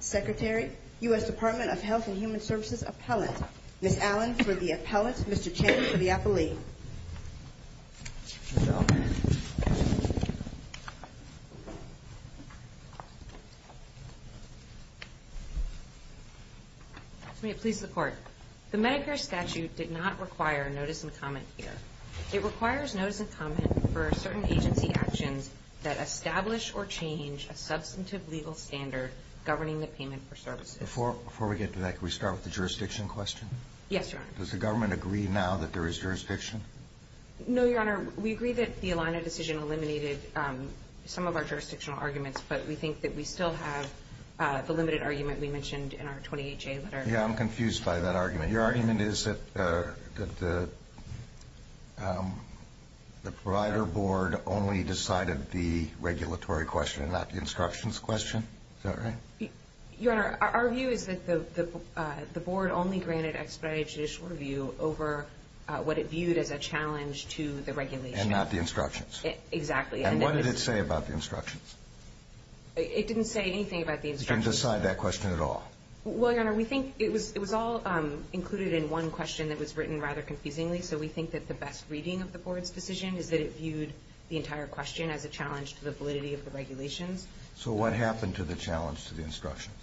Secretary, U.S. Department of Health and Human Services Appellant. Ms. Allen for the appellant, Mr. Chang for the appellee. May it please the Court. The Medicare statute did not require notice and comment here. It requires notice and comment for certain agency actions that establish or change a substantive legal standard governing the payment for services. Before we get to that, can we start with the jurisdiction question? Yes, Your Honor. Does the government agree now that there is jurisdiction? No, Your Honor. We agree that the ELINA decision eliminated some of our jurisdictional arguments, but we think that we still have the limited argument we mentioned in our 28-J letter. Yeah, I'm confused by that argument. Your argument is that the provider board only decided the regulatory question and not the instructions question? Is that right? Your Honor, our view is that the board only granted expedited judicial review over what it viewed as a challenge to the regulation. And not the instructions? Exactly. And what did it say about the instructions? It didn't say anything about the instructions. It didn't decide that question at all? Well, Your Honor, we think it was all included in one question that was written rather confusingly, so we think that the best reading of the board's decision is that it viewed the entire question as a challenge to the validity of the regulations. So what happened to the challenge to the instructions?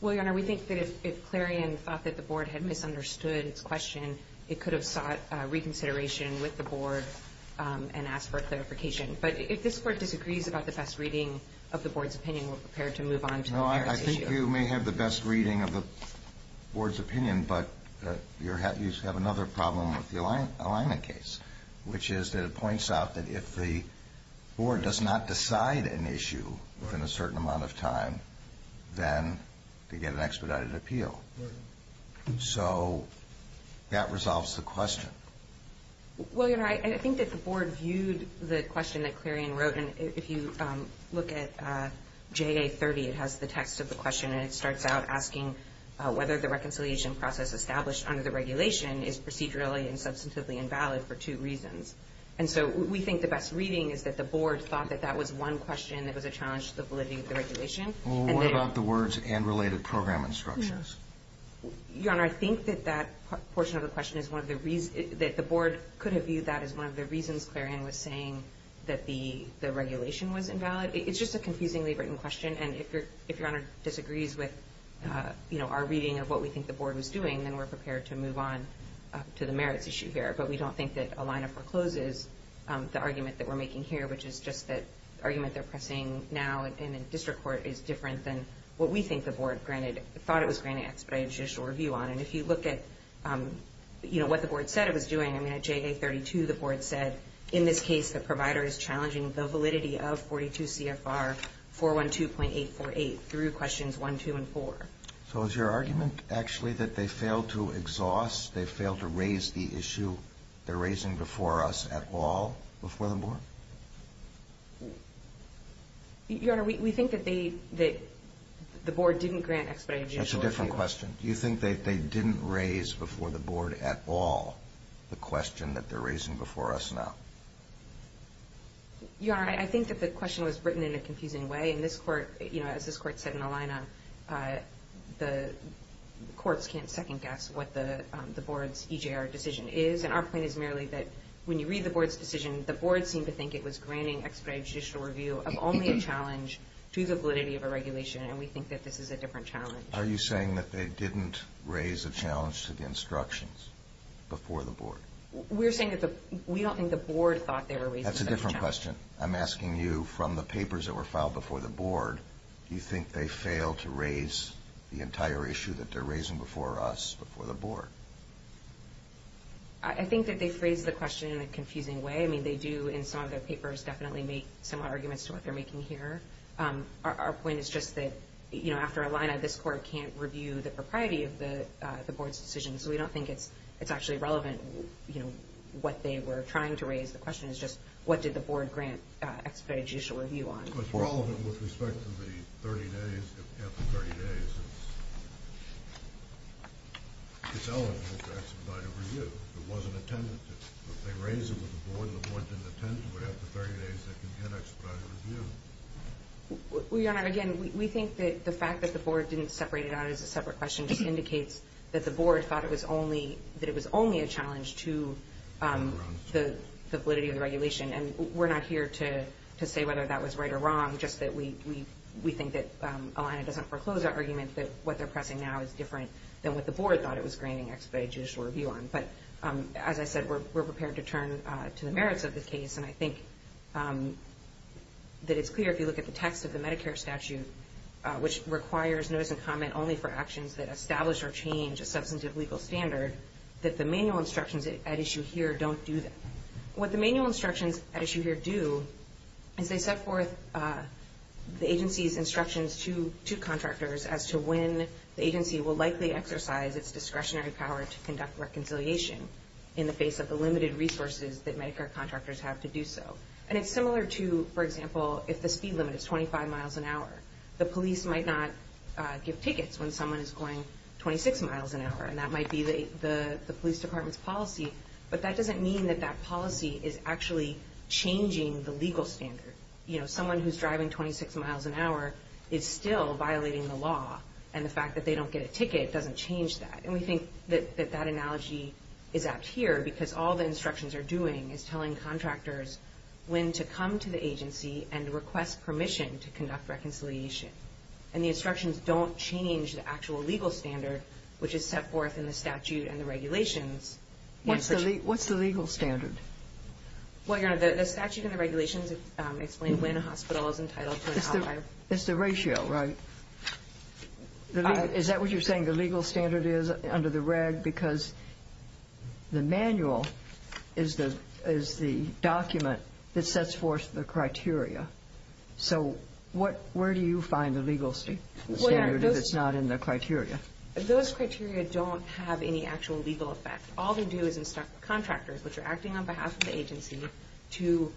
Well, Your Honor, we think that if Clarion thought that the board had misunderstood its question, it could have sought reconsideration with the board and asked for a clarification. But if this Court disagrees about the best reading of the board's opinion, we're prepared to move on to the next issue. You may have the best reading of the board's opinion, but you have another problem with the Alaina case, which is that it points out that if the board does not decide an issue within a certain amount of time, then they get an expedited appeal. So that resolves the question. Well, Your Honor, I think that the board viewed the question that Clarion wrote, and if you look at JA30, it has the text of the question, and it starts out asking whether the reconciliation process established under the regulation is procedurally and substantively invalid for two reasons. And so we think the best reading is that the board thought that that was one question that was a challenge to the validity of the regulation. Well, what about the words and related program instructions? Your Honor, I think that that portion of the question is one of the reasons that the board could have viewed that as one of the reasons Clarion was saying that the regulation was invalid. It's just a confusingly written question, and if Your Honor disagrees with our reading of what we think the board was doing, then we're prepared to move on to the merits issue here. But we don't think that a lineup forecloses the argument that we're making here, which is just that the argument they're pressing now in a district court is different than what we think the board thought it was granting expedited judicial review on. And if you look at what the board said it was doing, I mean, at JA32, the board said, in this case, the provider is challenging the validity of 42 CFR 412.848 through questions one, two, and four. So is your argument actually that they failed to exhaust, they failed to raise the issue they're raising before us at all before the board? Your Honor, we think that the board didn't grant expedited judicial review. That's a different question. Do you think that they didn't raise before the board at all the question that they're raising before us now? Your Honor, I think that the question was written in a confusing way. And this court, you know, as this court said in the lineup, the courts can't second guess what the board's EJR decision is. And our point is merely that when you read the board's decision, the board seemed to think it was granting expedited judicial review of only a challenge to the validity of a regulation. And we think that this is a different challenge. Are you saying that they didn't raise a challenge to the instructions before the board? We're saying that we don't think the board thought they were raising a challenge. That's a different question. I'm asking you from the papers that were filed before the board, do you think they failed to raise the entire issue that they're raising before us before the board? I think that they phrased the question in a confusing way. I mean, they do in some of their papers definitely make similar arguments to what they're making here. Our point is just that, you know, after a lineup, this court can't review the propriety of the board's decision. So we don't think it's actually relevant, you know, what they were trying to raise. The question is just what did the board grant expedited judicial review on. But it's relevant with respect to the 30 days, if after 30 days it's eligible for expedited review. If it wasn't attended to. If they raise it with the board and the board didn't attend to it after 30 days, they can get expedited review. Your Honor, again, we think that the fact that the board didn't separate it out as a separate question just indicates that the board thought it was only a challenge to the validity of the regulation. And we're not here to say whether that was right or wrong, just that we think that Alaina doesn't foreclose her argument that what they're pressing now is different than what the board thought it was granting expedited judicial review on. But as I said, we're prepared to turn to the merits of the case. And I think that it's clear if you look at the text of the Medicare statute, which requires notice and comment only for actions that establish or change a substantive legal standard, that the manual instructions at issue here don't do that. What the manual instructions at issue here do is they set forth the agency's instructions to contractors as to when the agency will likely exercise its discretionary power to conduct reconciliation in the face of the limited resources that Medicare contractors have to do so. And it's similar to, for example, if the speed limit is 25 miles an hour. The police might not give tickets when someone is going 26 miles an hour, and that might be the police department's policy. But that doesn't mean that that policy is actually changing the legal standard. You know, someone who's driving 26 miles an hour is still violating the law, and the fact that they don't get a ticket doesn't change that. And we think that that analogy is apt here, because all the instructions are doing is telling contractors when to come to the agency and request permission to conduct reconciliation. And the instructions don't change the actual legal standard, which is set forth in the statute and the regulations. What's the legal standard? Well, Your Honor, the statute and the regulations explain when a hospital is entitled to an outlier. It's the ratio, right? Is that what you're saying the legal standard is under the reg? Because the manual is the document that sets forth the criteria. So where do you find the legal standard if it's not in the criteria? Those criteria don't have any actual legal effect. All they do is instruct contractors, which are acting on behalf of the agency, to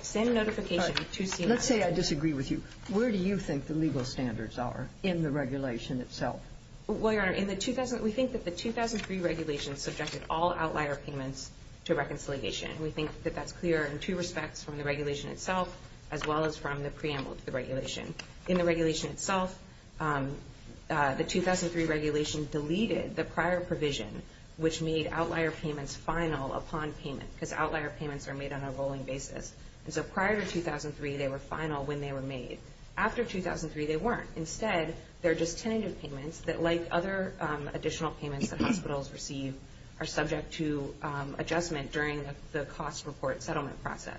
send notification to CMS. Let's say I disagree with you. Where do you think the legal standards are in the regulation itself? Well, Your Honor, we think that the 2003 regulation subjected all outlier payments to reconciliation. We think that that's clear in two respects from the regulation itself as well as from the preamble to the regulation. In the regulation itself, the 2003 regulation deleted the prior provision, which made outlier payments final upon payment, because outlier payments are made on a rolling basis. And so prior to 2003, they were final when they were made. After 2003, they weren't. Instead, they're just tentative payments that, like other additional payments that hospitals receive, are subject to adjustment during the cost report settlement process.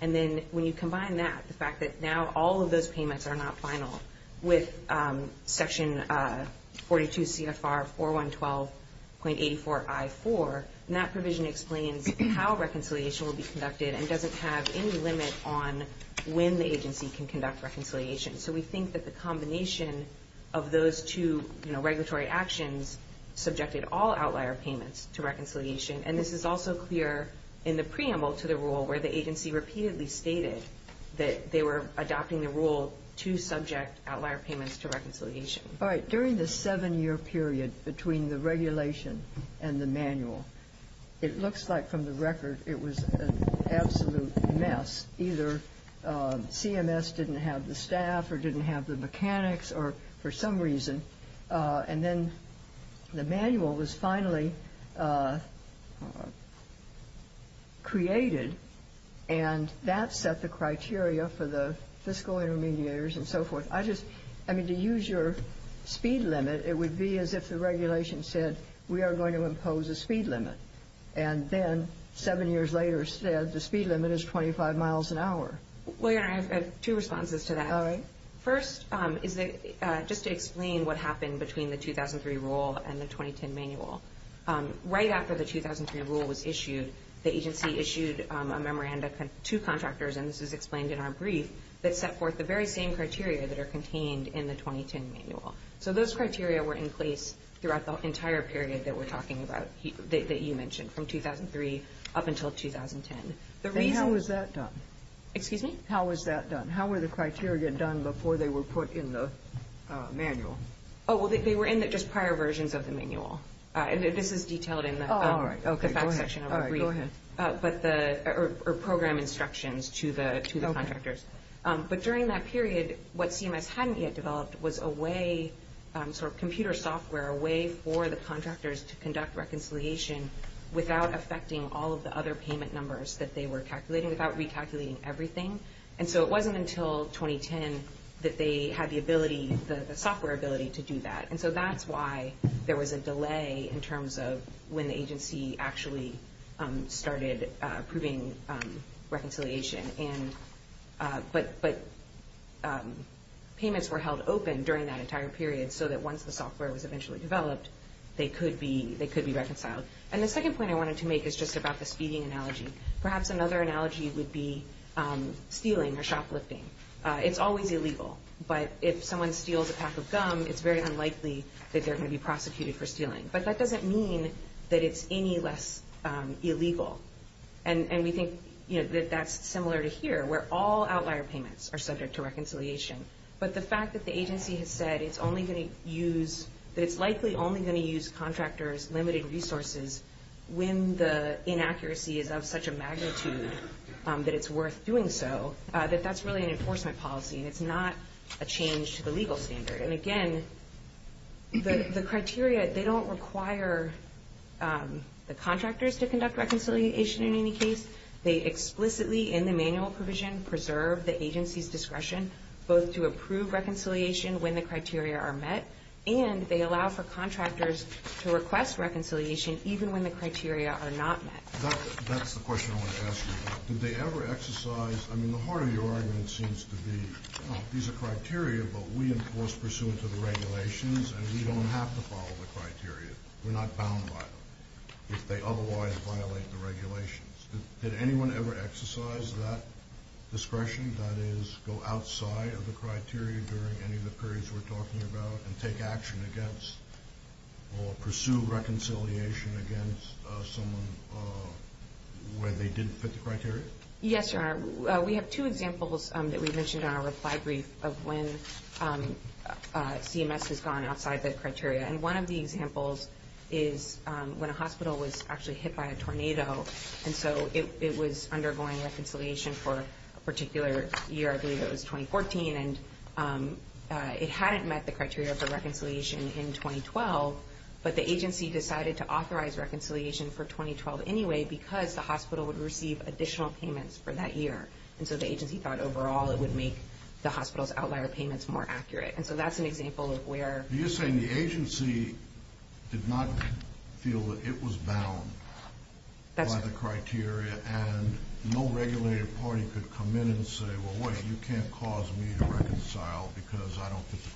And then when you combine that, the fact that now all of those payments are not final with Section 42 CFR 4112.84 I-4, and that provision explains how reconciliation will be conducted and doesn't have any limit on when the agency can conduct reconciliation. So we think that the combination of those two regulatory actions subjected all outlier payments to reconciliation. And this is also clear in the preamble to the rule where the agency repeatedly stated that they were adopting the rule to subject outlier payments to reconciliation. All right. During the seven-year period between the regulation and the manual, it looks like from the record it was an absolute mess. Either CMS didn't have the staff or didn't have the mechanics or for some reason. And then the manual was finally created, and that set the criteria for the fiscal intermediaries and so forth. I just, I mean, to use your speed limit, it would be as if the regulation said we are going to impose a speed limit. And then seven years later it said the speed limit is 25 miles an hour. Well, Your Honor, I have two responses to that. All right. First is just to explain what happened between the 2003 rule and the 2010 manual. Right after the 2003 rule was issued, the agency issued a memorandum to contractors, and this is explained in our brief, that set forth the very same criteria that are contained in the 2010 manual. So those criteria were in place throughout the entire period that we're talking about, that you mentioned, from 2003 up until 2010. How was that done? Excuse me? How was that done? How were the criteria done before they were put in the manual? Oh, well, they were in the just prior versions of the manual. This is detailed in the facts section of the brief. All right. Go ahead. Program instructions to the contractors. But during that period, what CMS hadn't yet developed was a way, sort of computer software, a way for the contractors to conduct reconciliation without affecting all of the other payment numbers that they were calculating, without recalculating everything. And so it wasn't until 2010 that they had the ability, the software ability, to do that. And so that's why there was a delay in terms of when the agency actually started approving reconciliation. But payments were held open during that entire period so that once the software was eventually developed, they could be reconciled. And the second point I wanted to make is just about the speeding analogy. Perhaps another analogy would be stealing or shoplifting. It's always illegal. But if someone steals a pack of gum, it's very unlikely that they're going to be prosecuted for stealing. But that doesn't mean that it's any less illegal. And we think that that's similar to here where all outlier payments are subject to reconciliation. But the fact that the agency has said it's likely only going to use contractors' limited resources when the inaccuracy is of such a magnitude that it's worth doing so, that that's really an enforcement policy and it's not a change to the legal standard. And, again, the criteria, they don't require the contractors to conduct reconciliation in any case. They explicitly in the manual provision preserve the agency's discretion both to approve reconciliation when the criteria are met and they allow for contractors to request reconciliation even when the criteria are not met. That's the question I want to ask you about. Did they ever exercise, I mean, the heart of your argument seems to be, well, these are criteria but we enforce pursuant to the regulations and we don't have to follow the criteria. We're not bound by them if they otherwise violate the regulations. Did anyone ever exercise that discretion? That is, go outside of the criteria during any of the periods we're talking about and take action against or pursue reconciliation against someone where they didn't fit the criteria? Yes, sir. We have two examples that we've mentioned in our reply brief of when CMS has gone outside the criteria. And one of the examples is when a hospital was actually hit by a tornado and so it was undergoing reconciliation for a particular year, I believe it was 2014, and it hadn't met the criteria for reconciliation in 2012, but the agency decided to authorize reconciliation for 2012 anyway because the hospital would receive additional payments for that year. And so the agency thought overall it would make the hospital's outlier payments more accurate. And so that's an example of where. You're saying the agency did not feel that it was bound by the criteria and no regulated party could come in and say, well, wait, you can't cause me to reconcile because I don't fit the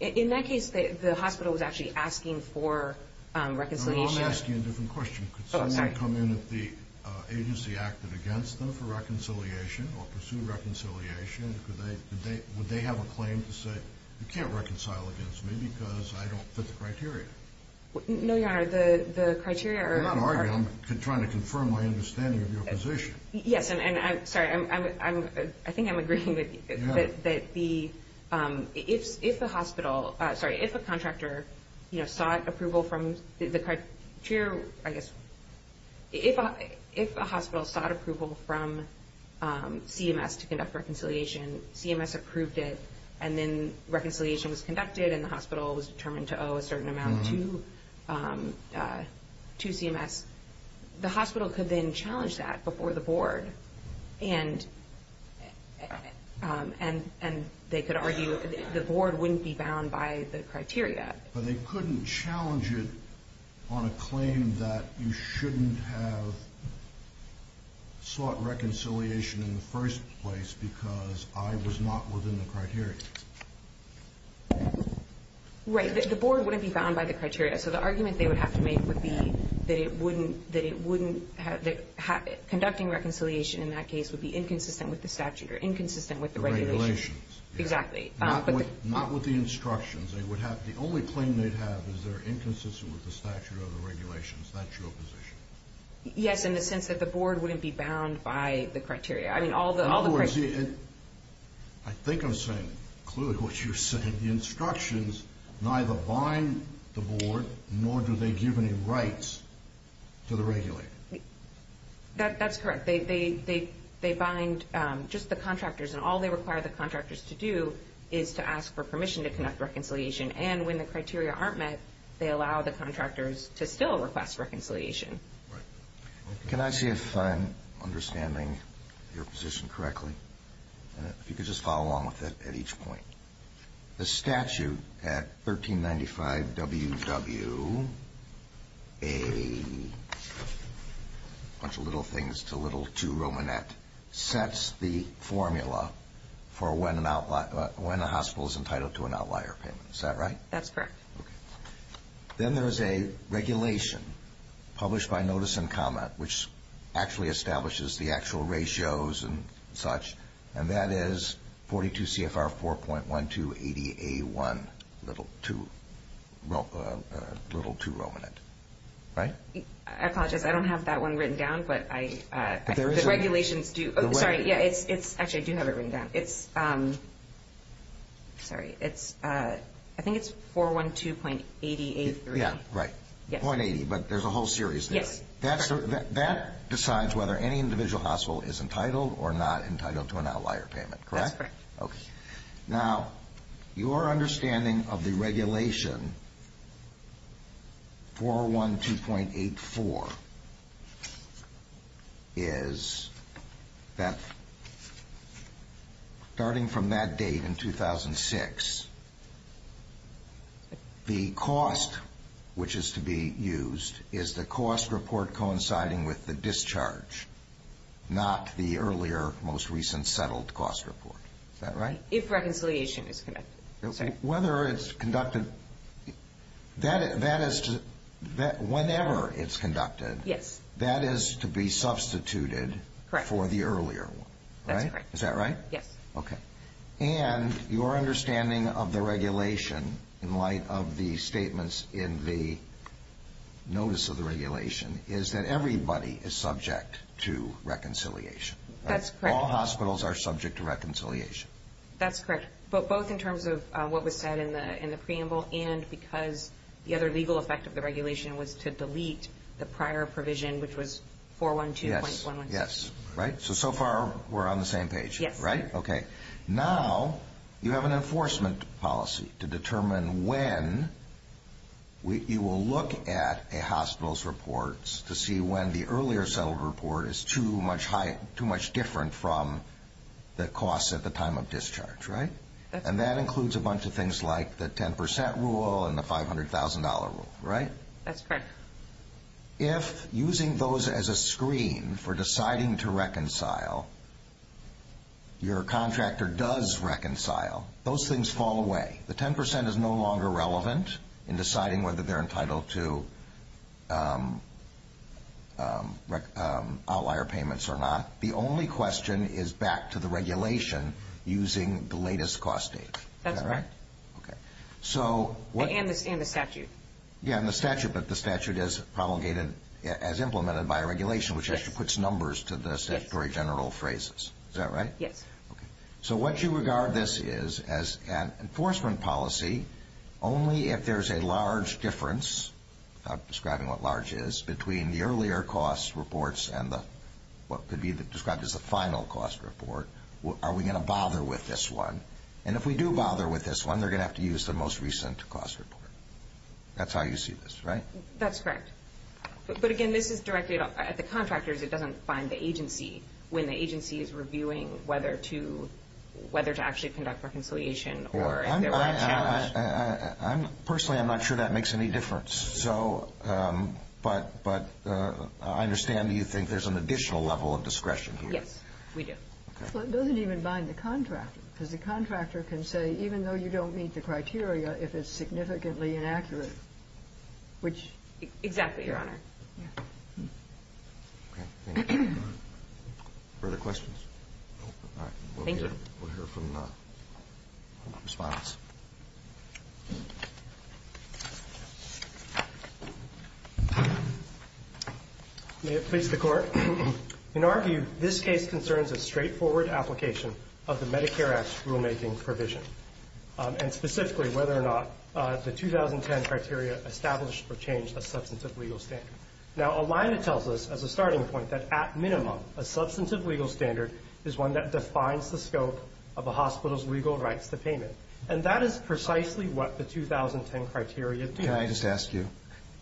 criteria. In that case, the hospital was actually asking for reconciliation. No, no, I'm asking a different question. Could somebody come in if the agency acted against them for reconciliation or pursued reconciliation? Would they have a claim to say you can't reconcile against me because I don't fit the criteria? No, Your Honor. The criteria are... I'm not arguing. I'm trying to confirm my understanding of your position. Yes, and I'm sorry. I think I'm agreeing that the... If the hospital... Sorry, if a contractor sought approval from the... I guess... If a hospital sought approval from CMS to conduct reconciliation, CMS approved it, and then reconciliation was conducted, and the hospital was determined to owe a certain amount to CMS, the hospital could then challenge that before the board, and they could argue the board wouldn't be bound by the criteria. But they couldn't challenge it on a claim that you shouldn't have sought reconciliation in the first place because I was not within the criteria. Right. The board wouldn't be bound by the criteria, so the argument they would have to make would be that it wouldn't have... Conducting reconciliation in that case would be inconsistent with the statute or inconsistent with the regulations. Exactly. Not with the instructions. They would have... The only claim they'd have is they're inconsistent with the statute or the regulations. That's your position. Yes, in the sense that the board wouldn't be bound by the criteria. I mean, all the... In other words, I think I'm saying clearly what you're saying. The instructions neither bind the board, nor do they give any rights to the regulator. That's correct. They bind just the contractors, and all they require the contractors to do is to ask for permission to conduct reconciliation. And when the criteria aren't met, they allow the contractors to still request reconciliation. Right. Can I see if I'm understanding your position correctly? If you could just follow along with it at each point. The statute at 1395WW, a bunch of little things to little to Romanet, sets the formula for when a hospital is entitled to an outlier payment. Is that right? That's correct. Okay. Then there is a regulation published by Notice and Comment, which actually establishes the actual ratios and such, and that is 42 CFR 4.1280A1 little to Romanet. Right? I apologize. I don't have that one written down, but the regulations do. Actually, I do have it written down. I think it's 412.80A3. Yeah, right. .80, but there's a whole series there. That decides whether any individual hospital is entitled or not entitled to an outlier payment, correct? That's correct. Okay. Now, your understanding of the regulation, 412.84, is that starting from that date in 2006, the cost, which is to be used, is the cost report coinciding with the discharge, not the earlier, most recent settled cost report. Is that right? If reconciliation is conducted. Whether it's conducted, whenever it's conducted, that is to be substituted for the earlier one. That's correct. Is that right? Yes. Okay. And your understanding of the regulation, in light of the statements in the notice of the regulation, is that everybody is subject to reconciliation. That's correct. All hospitals are subject to reconciliation. That's correct, both in terms of what was said in the preamble and because the other legal effect of the regulation was to delete the prior provision, which was 412.116. Yes. Right? So, so far, we're on the same page. Yes. Right? Okay. Now, you have an enforcement policy to determine when you will look at a hospital's reports to see when the earlier settled report is too much different from the cost at the time of discharge. Right? And that includes a bunch of things like the 10% rule and the $500,000 rule. Right? That's correct. If using those as a screen for deciding to reconcile, your contractor does reconcile, those things fall away. The 10% is no longer relevant in deciding whether they're entitled to outlier payments or not. The only question is back to the regulation using the latest cost date. That's right. Is that right? Okay. And the statute. Yeah, and the statute, but the statute is promulgated as implemented by regulation, which actually puts numbers to the statutory general phrases. Is that right? Yes. Okay. So what you regard this is as an enforcement policy only if there's a large difference, without describing what large is, between the earlier cost reports and the, what could be described as the final cost report. Are we going to bother with this one? And if we do bother with this one, they're going to have to use the most recent cost report. That's how you see this, right? That's correct. But again, this is directed at the contractors. It doesn't bind the agency when the agency is reviewing whether to actually conduct reconciliation or if there were a challenge. Personally, I'm not sure that makes any difference. But I understand that you think there's an additional level of discretion here. Yes, we do. Well, it doesn't even bind the contractor, because the contractor can say, even though you don't meet the criteria, if it's significantly inaccurate, which — Exactly, Your Honor. Okay. Any further questions? All right. Thank you. We'll hear from the Respondents. May it please the Court. In our view, this case concerns a straightforward application of the Medicare Act's rulemaking provision, and specifically whether or not the 2010 criteria established or changed a substantive legal standard. Now, a line that tells us, as a starting point, that at minimum, a substantive legal standard is one that defines the scope of a hospital's legal rights to payment. And that is precisely what the 2010 criteria do. Can I just ask you,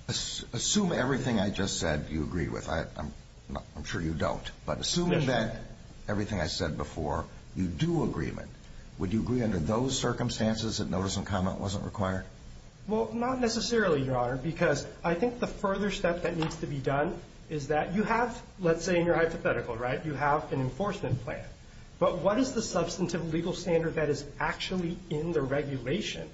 assume everything I just said you agree with. I'm sure you don't. But assume that everything I said before, you do agree with, would you agree under those circumstances that notice and comment wasn't required? Well, not necessarily, Your Honor, because I think the further step that needs to be done is that you have, let's say in your hypothetical, right, you have an enforcement plan. But what is the substantive legal standard that is actually in the regulation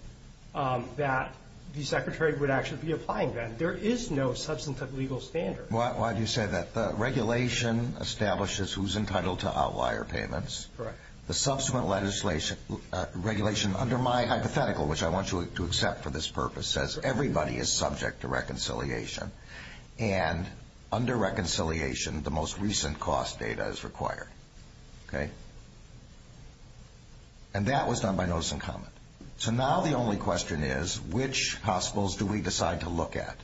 that the Secretary would actually be applying then? There is no substantive legal standard. Why do you say that? The regulation establishes who's entitled to outlier payments. Correct. The subsequent regulation under my hypothetical, which I want you to accept for this purpose, says everybody is subject to reconciliation. And under reconciliation, the most recent cost data is required. Okay? And that was done by notice and comment. So now the only question is, which hospitals do we decide to look at?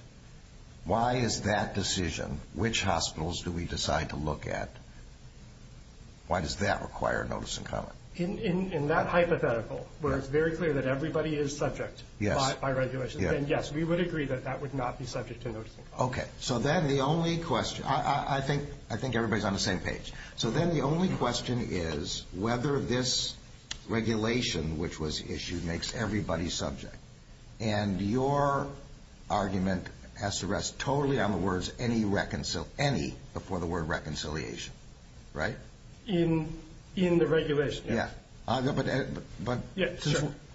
Why is that decision, which hospitals do we decide to look at, why does that require notice and comment? In that hypothetical, where it's very clear that everybody is subject by regulation, then yes, we would agree that that would not be subject to notice and comment. Okay. So then the only question, I think everybody's on the same page. So then the only question is whether this regulation, which was issued, makes everybody subject. And your argument has to rest totally on the words any before the word reconciliation. Right? In the regulation. Yeah. But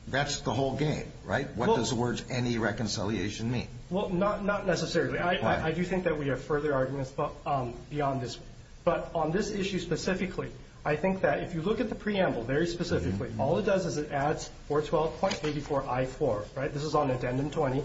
that's the whole game, right? What does the words any reconciliation mean? Well, not necessarily. I do think that we have further arguments beyond this. But on this issue specifically, I think that if you look at the preamble very specifically, all it does is it adds 412.84I4, right? This is on addendum 20,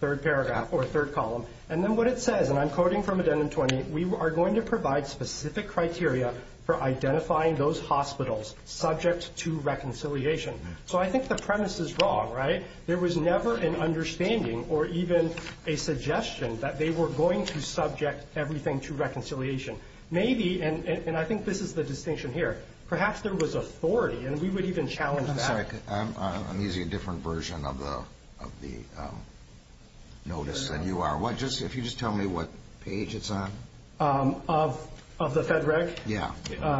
third paragraph or third column. And then what it says, and I'm quoting from addendum 20, we are going to provide specific criteria for identifying those hospitals subject to reconciliation. So I think the premise is wrong, right? There was never an understanding or even a suggestion that they were going to subject everything to reconciliation. Maybe, and I think this is the distinction here, perhaps there was authority, and we would even challenge that. I'm sorry. I'm using a different version of the notice than you are. If you just tell me what page it's on. Of the FedRec? Yeah.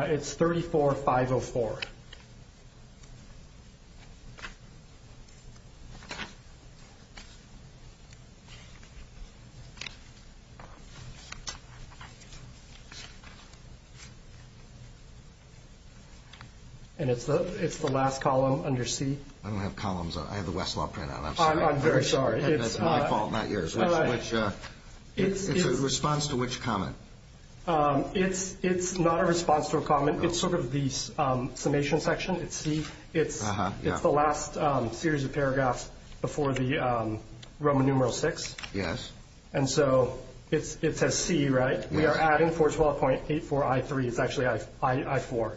It's 34504. And it's the last column under C. I don't have columns. I have the Westlaw printout. I'm sorry. I'm very sorry. It's my fault, not yours. It's a response to which comment? It's not a response to a comment. It's sort of the summation section. It's C. It's the last series of paragraphs before the Roman numeral VI. Yes. And so it says C, right? We are adding 412.84I3. It's actually I4.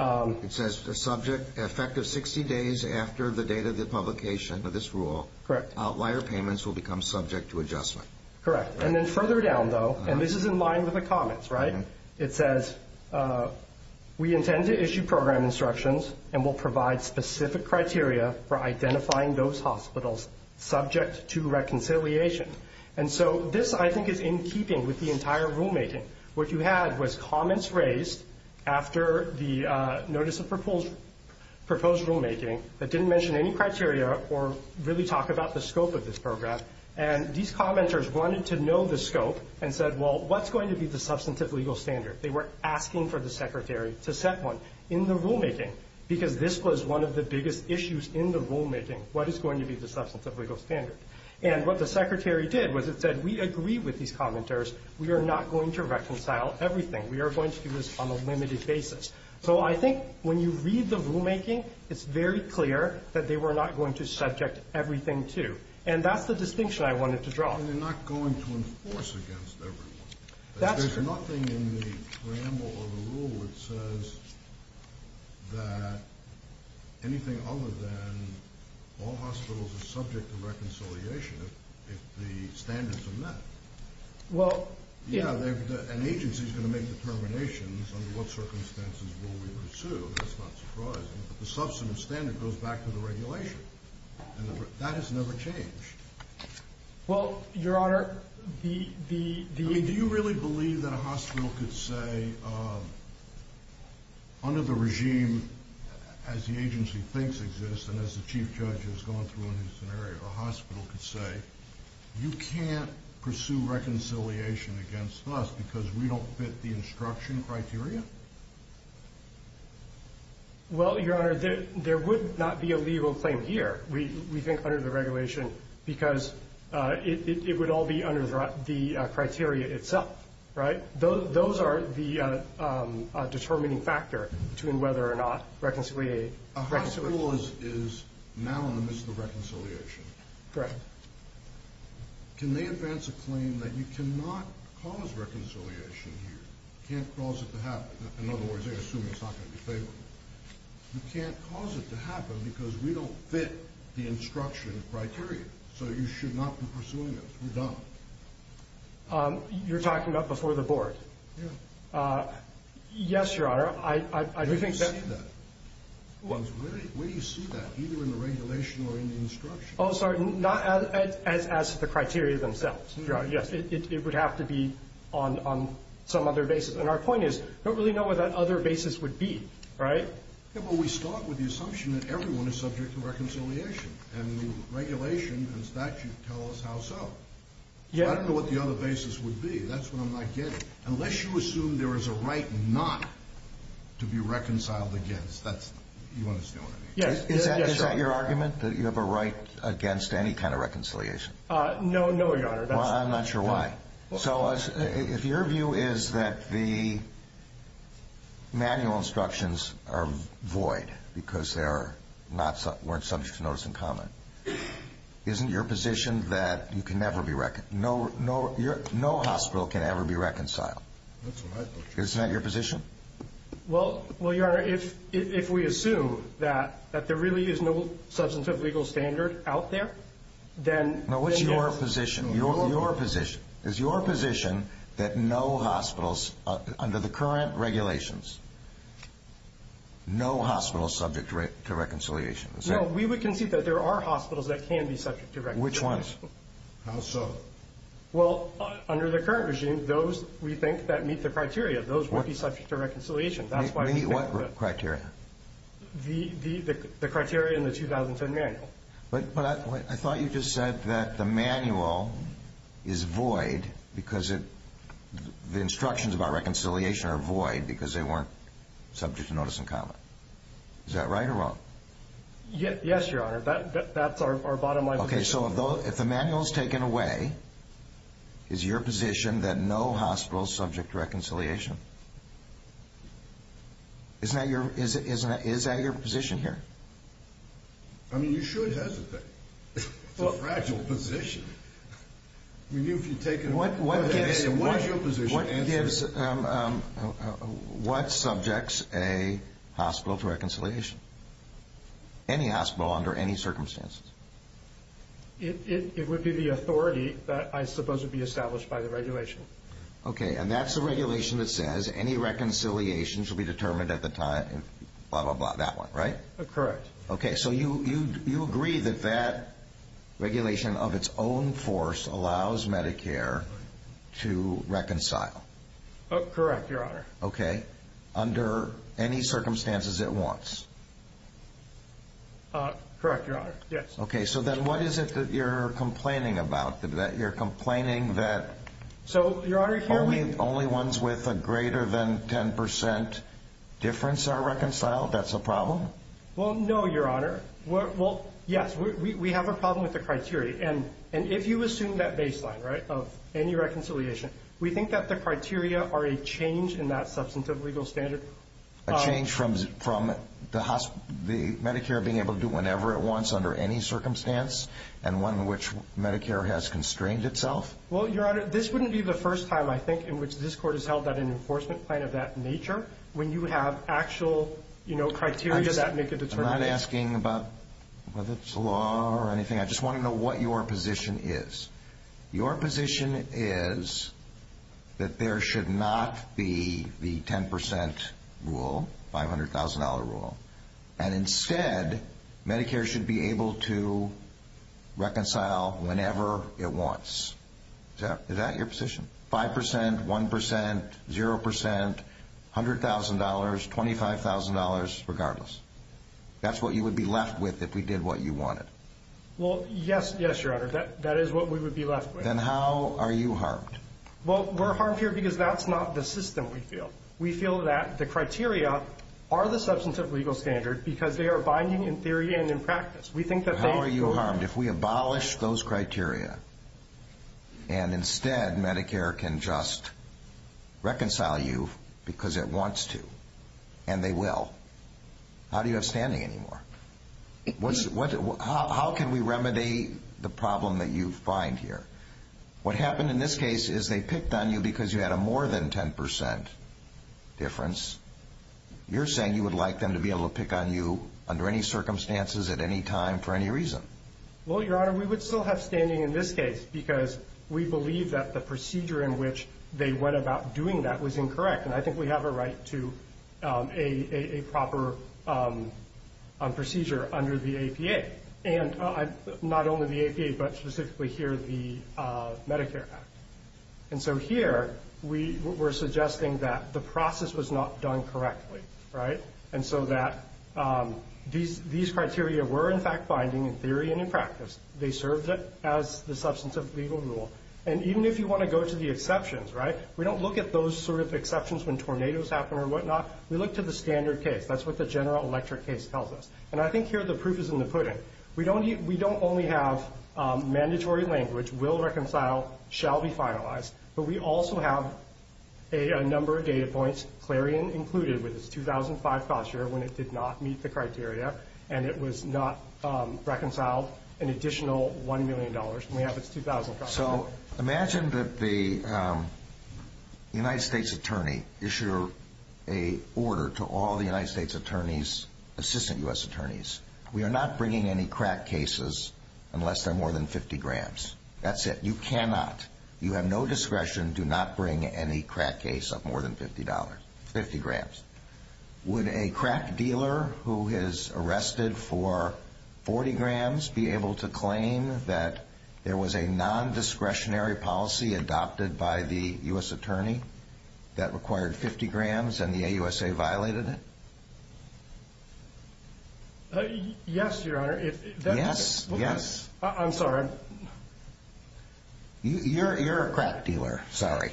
It says the subject effective 60 days after the date of the publication of this rule. Correct. Outlier payments will become subject to adjustment. Correct. And then further down, though, and this is in line with the comments, right? It says we intend to issue program instructions and will provide specific criteria for identifying those hospitals subject to reconciliation. And so this, I think, is in keeping with the entire rulemaking. What you had was comments raised after the notice of proposed rulemaking that didn't mention any criteria or really talk about the scope of this program. And these commenters wanted to know the scope and said, well, what's going to be the substantive legal standard? They were asking for the secretary to set one in the rulemaking because this was one of the biggest issues in the rulemaking, what is going to be the substantive legal standard. And what the secretary did was it said, we agree with these commenters. We are not going to reconcile everything. We are going to do this on a limited basis. So I think when you read the rulemaking, it's very clear that they were not going to subject everything to. And that's the distinction I wanted to draw. And they're not going to enforce against everyone. There's nothing in the preamble or the rule that says that anything other than all hospitals are subject to reconciliation if the standards are met. Well, yeah. An agency is going to make determinations under what circumstances will we pursue. That's not surprising. But the substantive standard goes back to the regulation. And that has never changed. Well, Your Honor, the- I mean, do you really believe that a hospital could say under the regime as the agency thinks exists and as the chief judge has gone through in this scenario, a hospital could say, you can't pursue reconciliation against us because we don't fit the instruction criteria? Well, Your Honor, there would not be a legal claim here, we think, under the regulation, because it would all be under the criteria itself, right? Those are the determining factor between whether or not reconciliation- A hospital is now in the midst of reconciliation. Correct. Can they advance a claim that you cannot cause reconciliation here, can't cause it to happen? In other words, they assume it's not going to be favorable. You can't cause it to happen because we don't fit the instruction criteria. So you should not be pursuing it. We're done. You're talking about before the board? Yeah. Yes, Your Honor, I do think that- Where do you see that? Where do you see that, either in the regulation or in the instruction? Oh, sorry, not as the criteria themselves. Your Honor, yes, it would have to be on some other basis. And our point is, we don't really know what that other basis would be, right? Yeah, but we start with the assumption that everyone is subject to reconciliation, and the regulation and statute tell us how so. Yeah. But I don't know what the other basis would be. That's what I'm not getting. Unless you assume there is a right not to be reconciled against, that's-you understand what I mean? Yes. Is that your argument, that you have a right against any kind of reconciliation? No, no, Your Honor. Well, I'm not sure why. So if your view is that the manual instructions are void because they weren't subject to notice and comment, isn't your position that you can never be-no hospital can ever be reconciled? That's what I think. Isn't that your position? Well, Your Honor, if we assume that there really is no substantive legal standard out there, then- Is your position that no hospitals under the current regulations, no hospitals subject to reconciliation? No, we would concede that there are hospitals that can be subject to reconciliation. Which ones? How so? Well, under the current regime, those, we think, that meet the criteria. Those would be subject to reconciliation. That's why we think that- Meet what criteria? The criteria in the 2010 manual. But I thought you just said that the manual is void because it-the instructions about reconciliation are void because they weren't subject to notice and comment. Is that right or wrong? Yes, Your Honor. That's our bottom line position. Okay, so if the manual is taken away, is your position that no hospitals subject to reconciliation? Isn't that your-is that your position here? I mean, you should hesitate. It's a fragile position. I mean, if you take it away, what is your position? What gives-what subjects a hospital to reconciliation? Any hospital under any circumstances. It would be the authority that I suppose would be established by the regulation. Okay, and that's the regulation that says any reconciliation should be determined at the time, blah, blah, blah, that one, right? Correct. Okay, so you agree that that regulation of its own force allows Medicare to reconcile? Correct, Your Honor. Okay, under any circumstances it wants? Correct, Your Honor, yes. Okay, so then what is it that you're complaining about? That you're complaining that- So, Your Honor, here we- Well, no, Your Honor. Well, yes, we have a problem with the criteria, and if you assume that baseline, right, of any reconciliation, we think that the criteria are a change in that substantive legal standard. A change from the Medicare being able to do whatever it wants under any circumstance and one in which Medicare has constrained itself? Well, Your Honor, this wouldn't be the first time, I think, in which this Court has held an enforcement plan of that nature when you have actual, you know, criteria that make a determination. I'm not asking about whether it's the law or anything. I just want to know what your position is. Your position is that there should not be the 10% rule, $500,000 rule, and instead Medicare should be able to reconcile whenever it wants. Is that your position? 5%, 1%, 0%, $100,000, $25,000, regardless? That's what you would be left with if we did what you wanted? Well, yes, yes, Your Honor, that is what we would be left with. Then how are you harmed? Well, we're harmed here because that's not the system we feel. We feel that the criteria are the substantive legal standard because they are binding in theory and in practice. How are you harmed? If we abolish those criteria and instead Medicare can just reconcile you because it wants to and they will, how do you have standing anymore? How can we remedy the problem that you find here? What happened in this case is they picked on you because you had a more than 10% difference. You're saying you would like them to be able to pick on you under any circumstances at any time for any reason? Well, Your Honor, we would still have standing in this case because we believe that the procedure in which they went about doing that was incorrect, and I think we have a right to a proper procedure under the APA, and not only the APA but specifically here the Medicare Act. And so here we're suggesting that the process was not done correctly, right? And so that these criteria were in fact binding in theory and in practice. They served as the substantive legal rule. And even if you want to go to the exceptions, right? We don't look at those sort of exceptions when tornadoes happen or whatnot. We look to the standard case. That's what the general electric case tells us. And I think here the proof is in the pudding. We don't only have mandatory language, will reconcile, shall be finalized, but we also have a number of data points, Clarion included, with its 2005 cost year when it did not meet the criteria and it was not reconciled an additional $1 million, and we have its 2000 cost year. So imagine that the United States attorney issued an order to all the United States attorneys, assistant U.S. attorneys. We are not bringing any crack cases unless they're more than 50 grams. That's it. You cannot. You have no discretion. Do not bring any crack case of more than 50 grams. Would a crack dealer who is arrested for 40 grams be able to claim that there was a non-discretionary policy adopted by the U.S. attorney that required 50 grams and the AUSA violated it? Yes, Your Honor. Yes, yes. I'm sorry. You're a crack dealer. Sorry.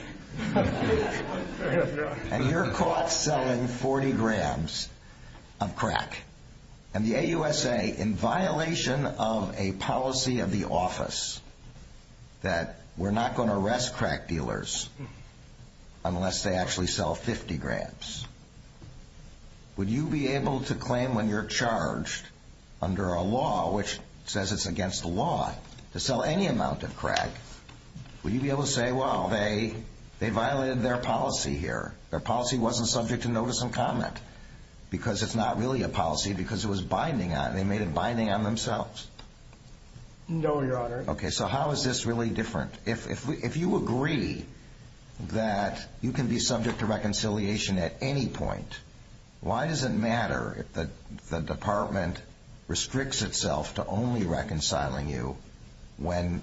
And you're caught selling 40 grams of crack, and the AUSA, in violation of a policy of the office that we're not going to arrest crack dealers unless they actually sell 50 grams. Would you be able to claim when you're charged under a law which says it's against the law to sell any amount of crack, would you be able to say, well, they violated their policy here? Their policy wasn't subject to notice and comment because it's not really a policy because it was binding on it. They made it binding on themselves. No, Your Honor. Okay. So how is this really different? If you agree that you can be subject to reconciliation at any point, why does it matter if the department restricts itself to only reconciling you when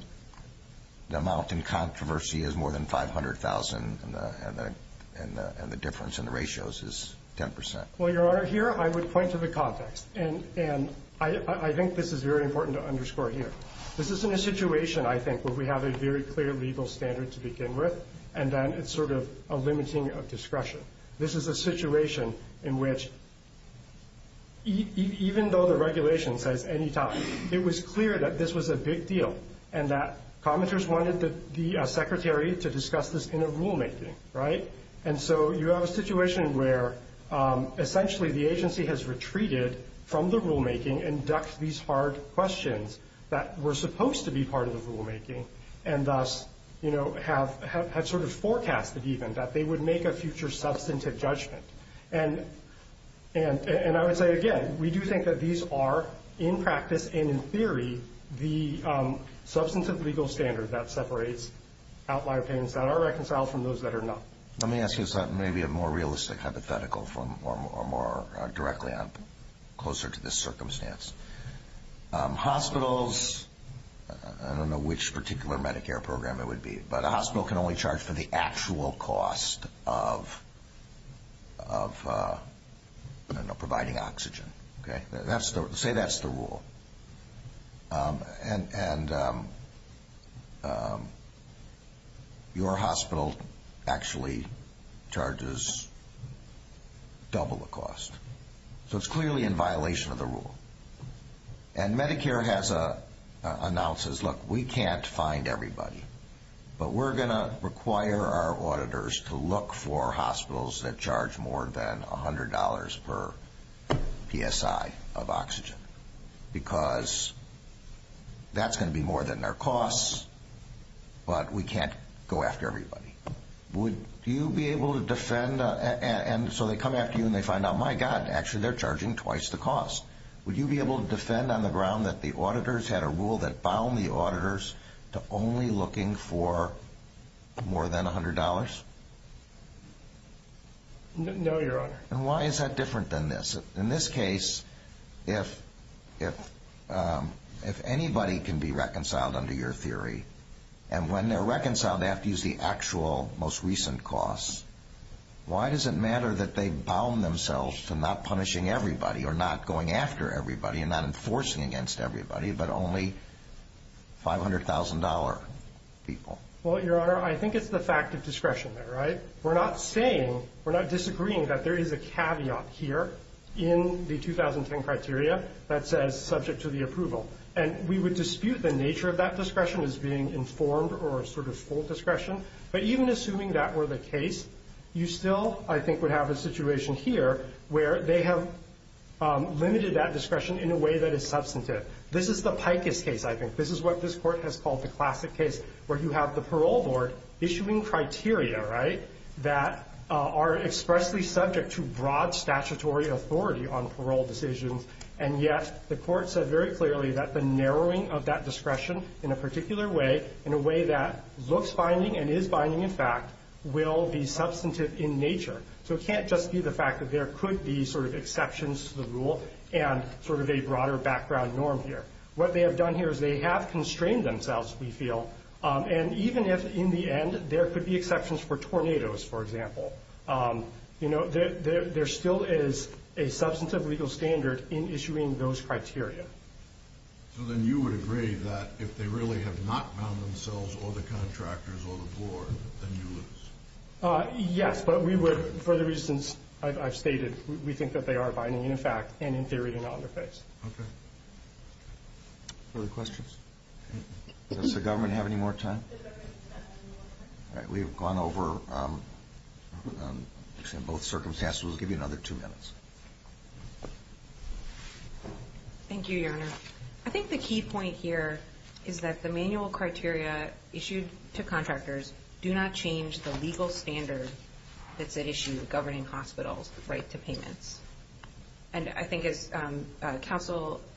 the amount in controversy is more than $500,000 and the difference in the ratios is 10 percent? Well, Your Honor, here I would point to the context, and I think this is very important to underscore here. This isn't a situation, I think, where we have a very clear legal standard to begin with and then it's sort of a limiting of discretion. This is a situation in which even though the regulation says any time, it was clear that this was a big deal and that commenters wanted the secretary to discuss this in a rulemaking, right? And so you have a situation where essentially the agency has retreated from the rulemaking and ducked these hard questions that were supposed to be part of the rulemaking and thus had sort of forecasted even that they would make a future substantive judgment. And I would say, again, we do think that these are, in practice and in theory, the substantive legal standard that separates outlier payments that are reconciled from those that are not. Let me ask you something maybe a more realistic hypothetical or more directly closer to this circumstance. Hospitals, I don't know which particular Medicare program it would be, but a hospital can only charge for the actual cost of providing oxygen. Say that's the rule. And your hospital actually charges double the cost. So it's clearly in violation of the rule. And Medicare announces, look, we can't find everybody, but we're going to require our auditors to look for hospitals that charge more than $100 per PSI of oxygen because that's going to be more than their costs, but we can't go after everybody. Would you be able to defend? And so they come after you and they find out, my God, actually they're charging twice the cost. Would you be able to defend on the ground that the auditors had a rule that bound the auditors to only looking for more than $100? No, Your Honor. And why is that different than this? Because in this case, if anybody can be reconciled under your theory, and when they're reconciled they have to use the actual most recent costs, why does it matter that they bound themselves to not punishing everybody or not going after everybody and not enforcing against everybody but only $500,000 people? Well, Your Honor, I think it's the fact of discretion there, right? We're not saying, we're not disagreeing that there is a caveat here in the 2010 criteria that says subject to the approval, and we would dispute the nature of that discretion as being informed or sort of full discretion, but even assuming that were the case, you still, I think, would have a situation here where they have limited that discretion in a way that is substantive. This is the Pikus case, I think. This is what this court has called the classic case where you have the parole board issuing criteria, right, that are expressly subject to broad statutory authority on parole decisions, and yet the court said very clearly that the narrowing of that discretion in a particular way, in a way that looks binding and is binding, in fact, will be substantive in nature. So it can't just be the fact that there could be sort of exceptions to the rule and sort of a broader background norm here. What they have done here is they have constrained themselves, we feel, and even if in the end there could be exceptions for tornadoes, for example, you know, there still is a substantive legal standard in issuing those criteria. So then you would agree that if they really have not bound themselves or the contractors or the board, then you lose. Yes, but we would, for the reasons I've stated, we think that they are binding, in fact, and in theory they're not under phase. Okay. Other questions? Does the government have any more time? All right, we have gone over both circumstances. We'll give you another two minutes. Thank you, Your Honor. I think the key point here is that the manual criteria issued to contractors do not change the legal standard that's at issue governing hospitals' right to payments. And I think as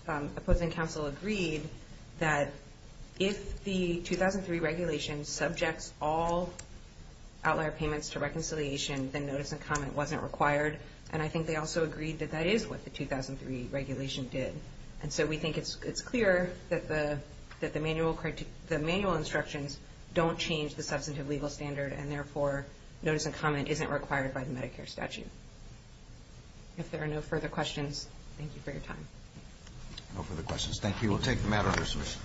opposing counsel agreed that if the 2003 regulation subjects all outlier payments to reconciliation, then notice and comment wasn't required. And I think they also agreed that that is what the 2003 regulation did. And so we think it's clear that the manual instructions don't change the substantive legal standard and, therefore, notice and comment isn't required by the Medicare statute. If there are no further questions, thank you for your time. No further questions. Thank you. We'll take the matter under submission.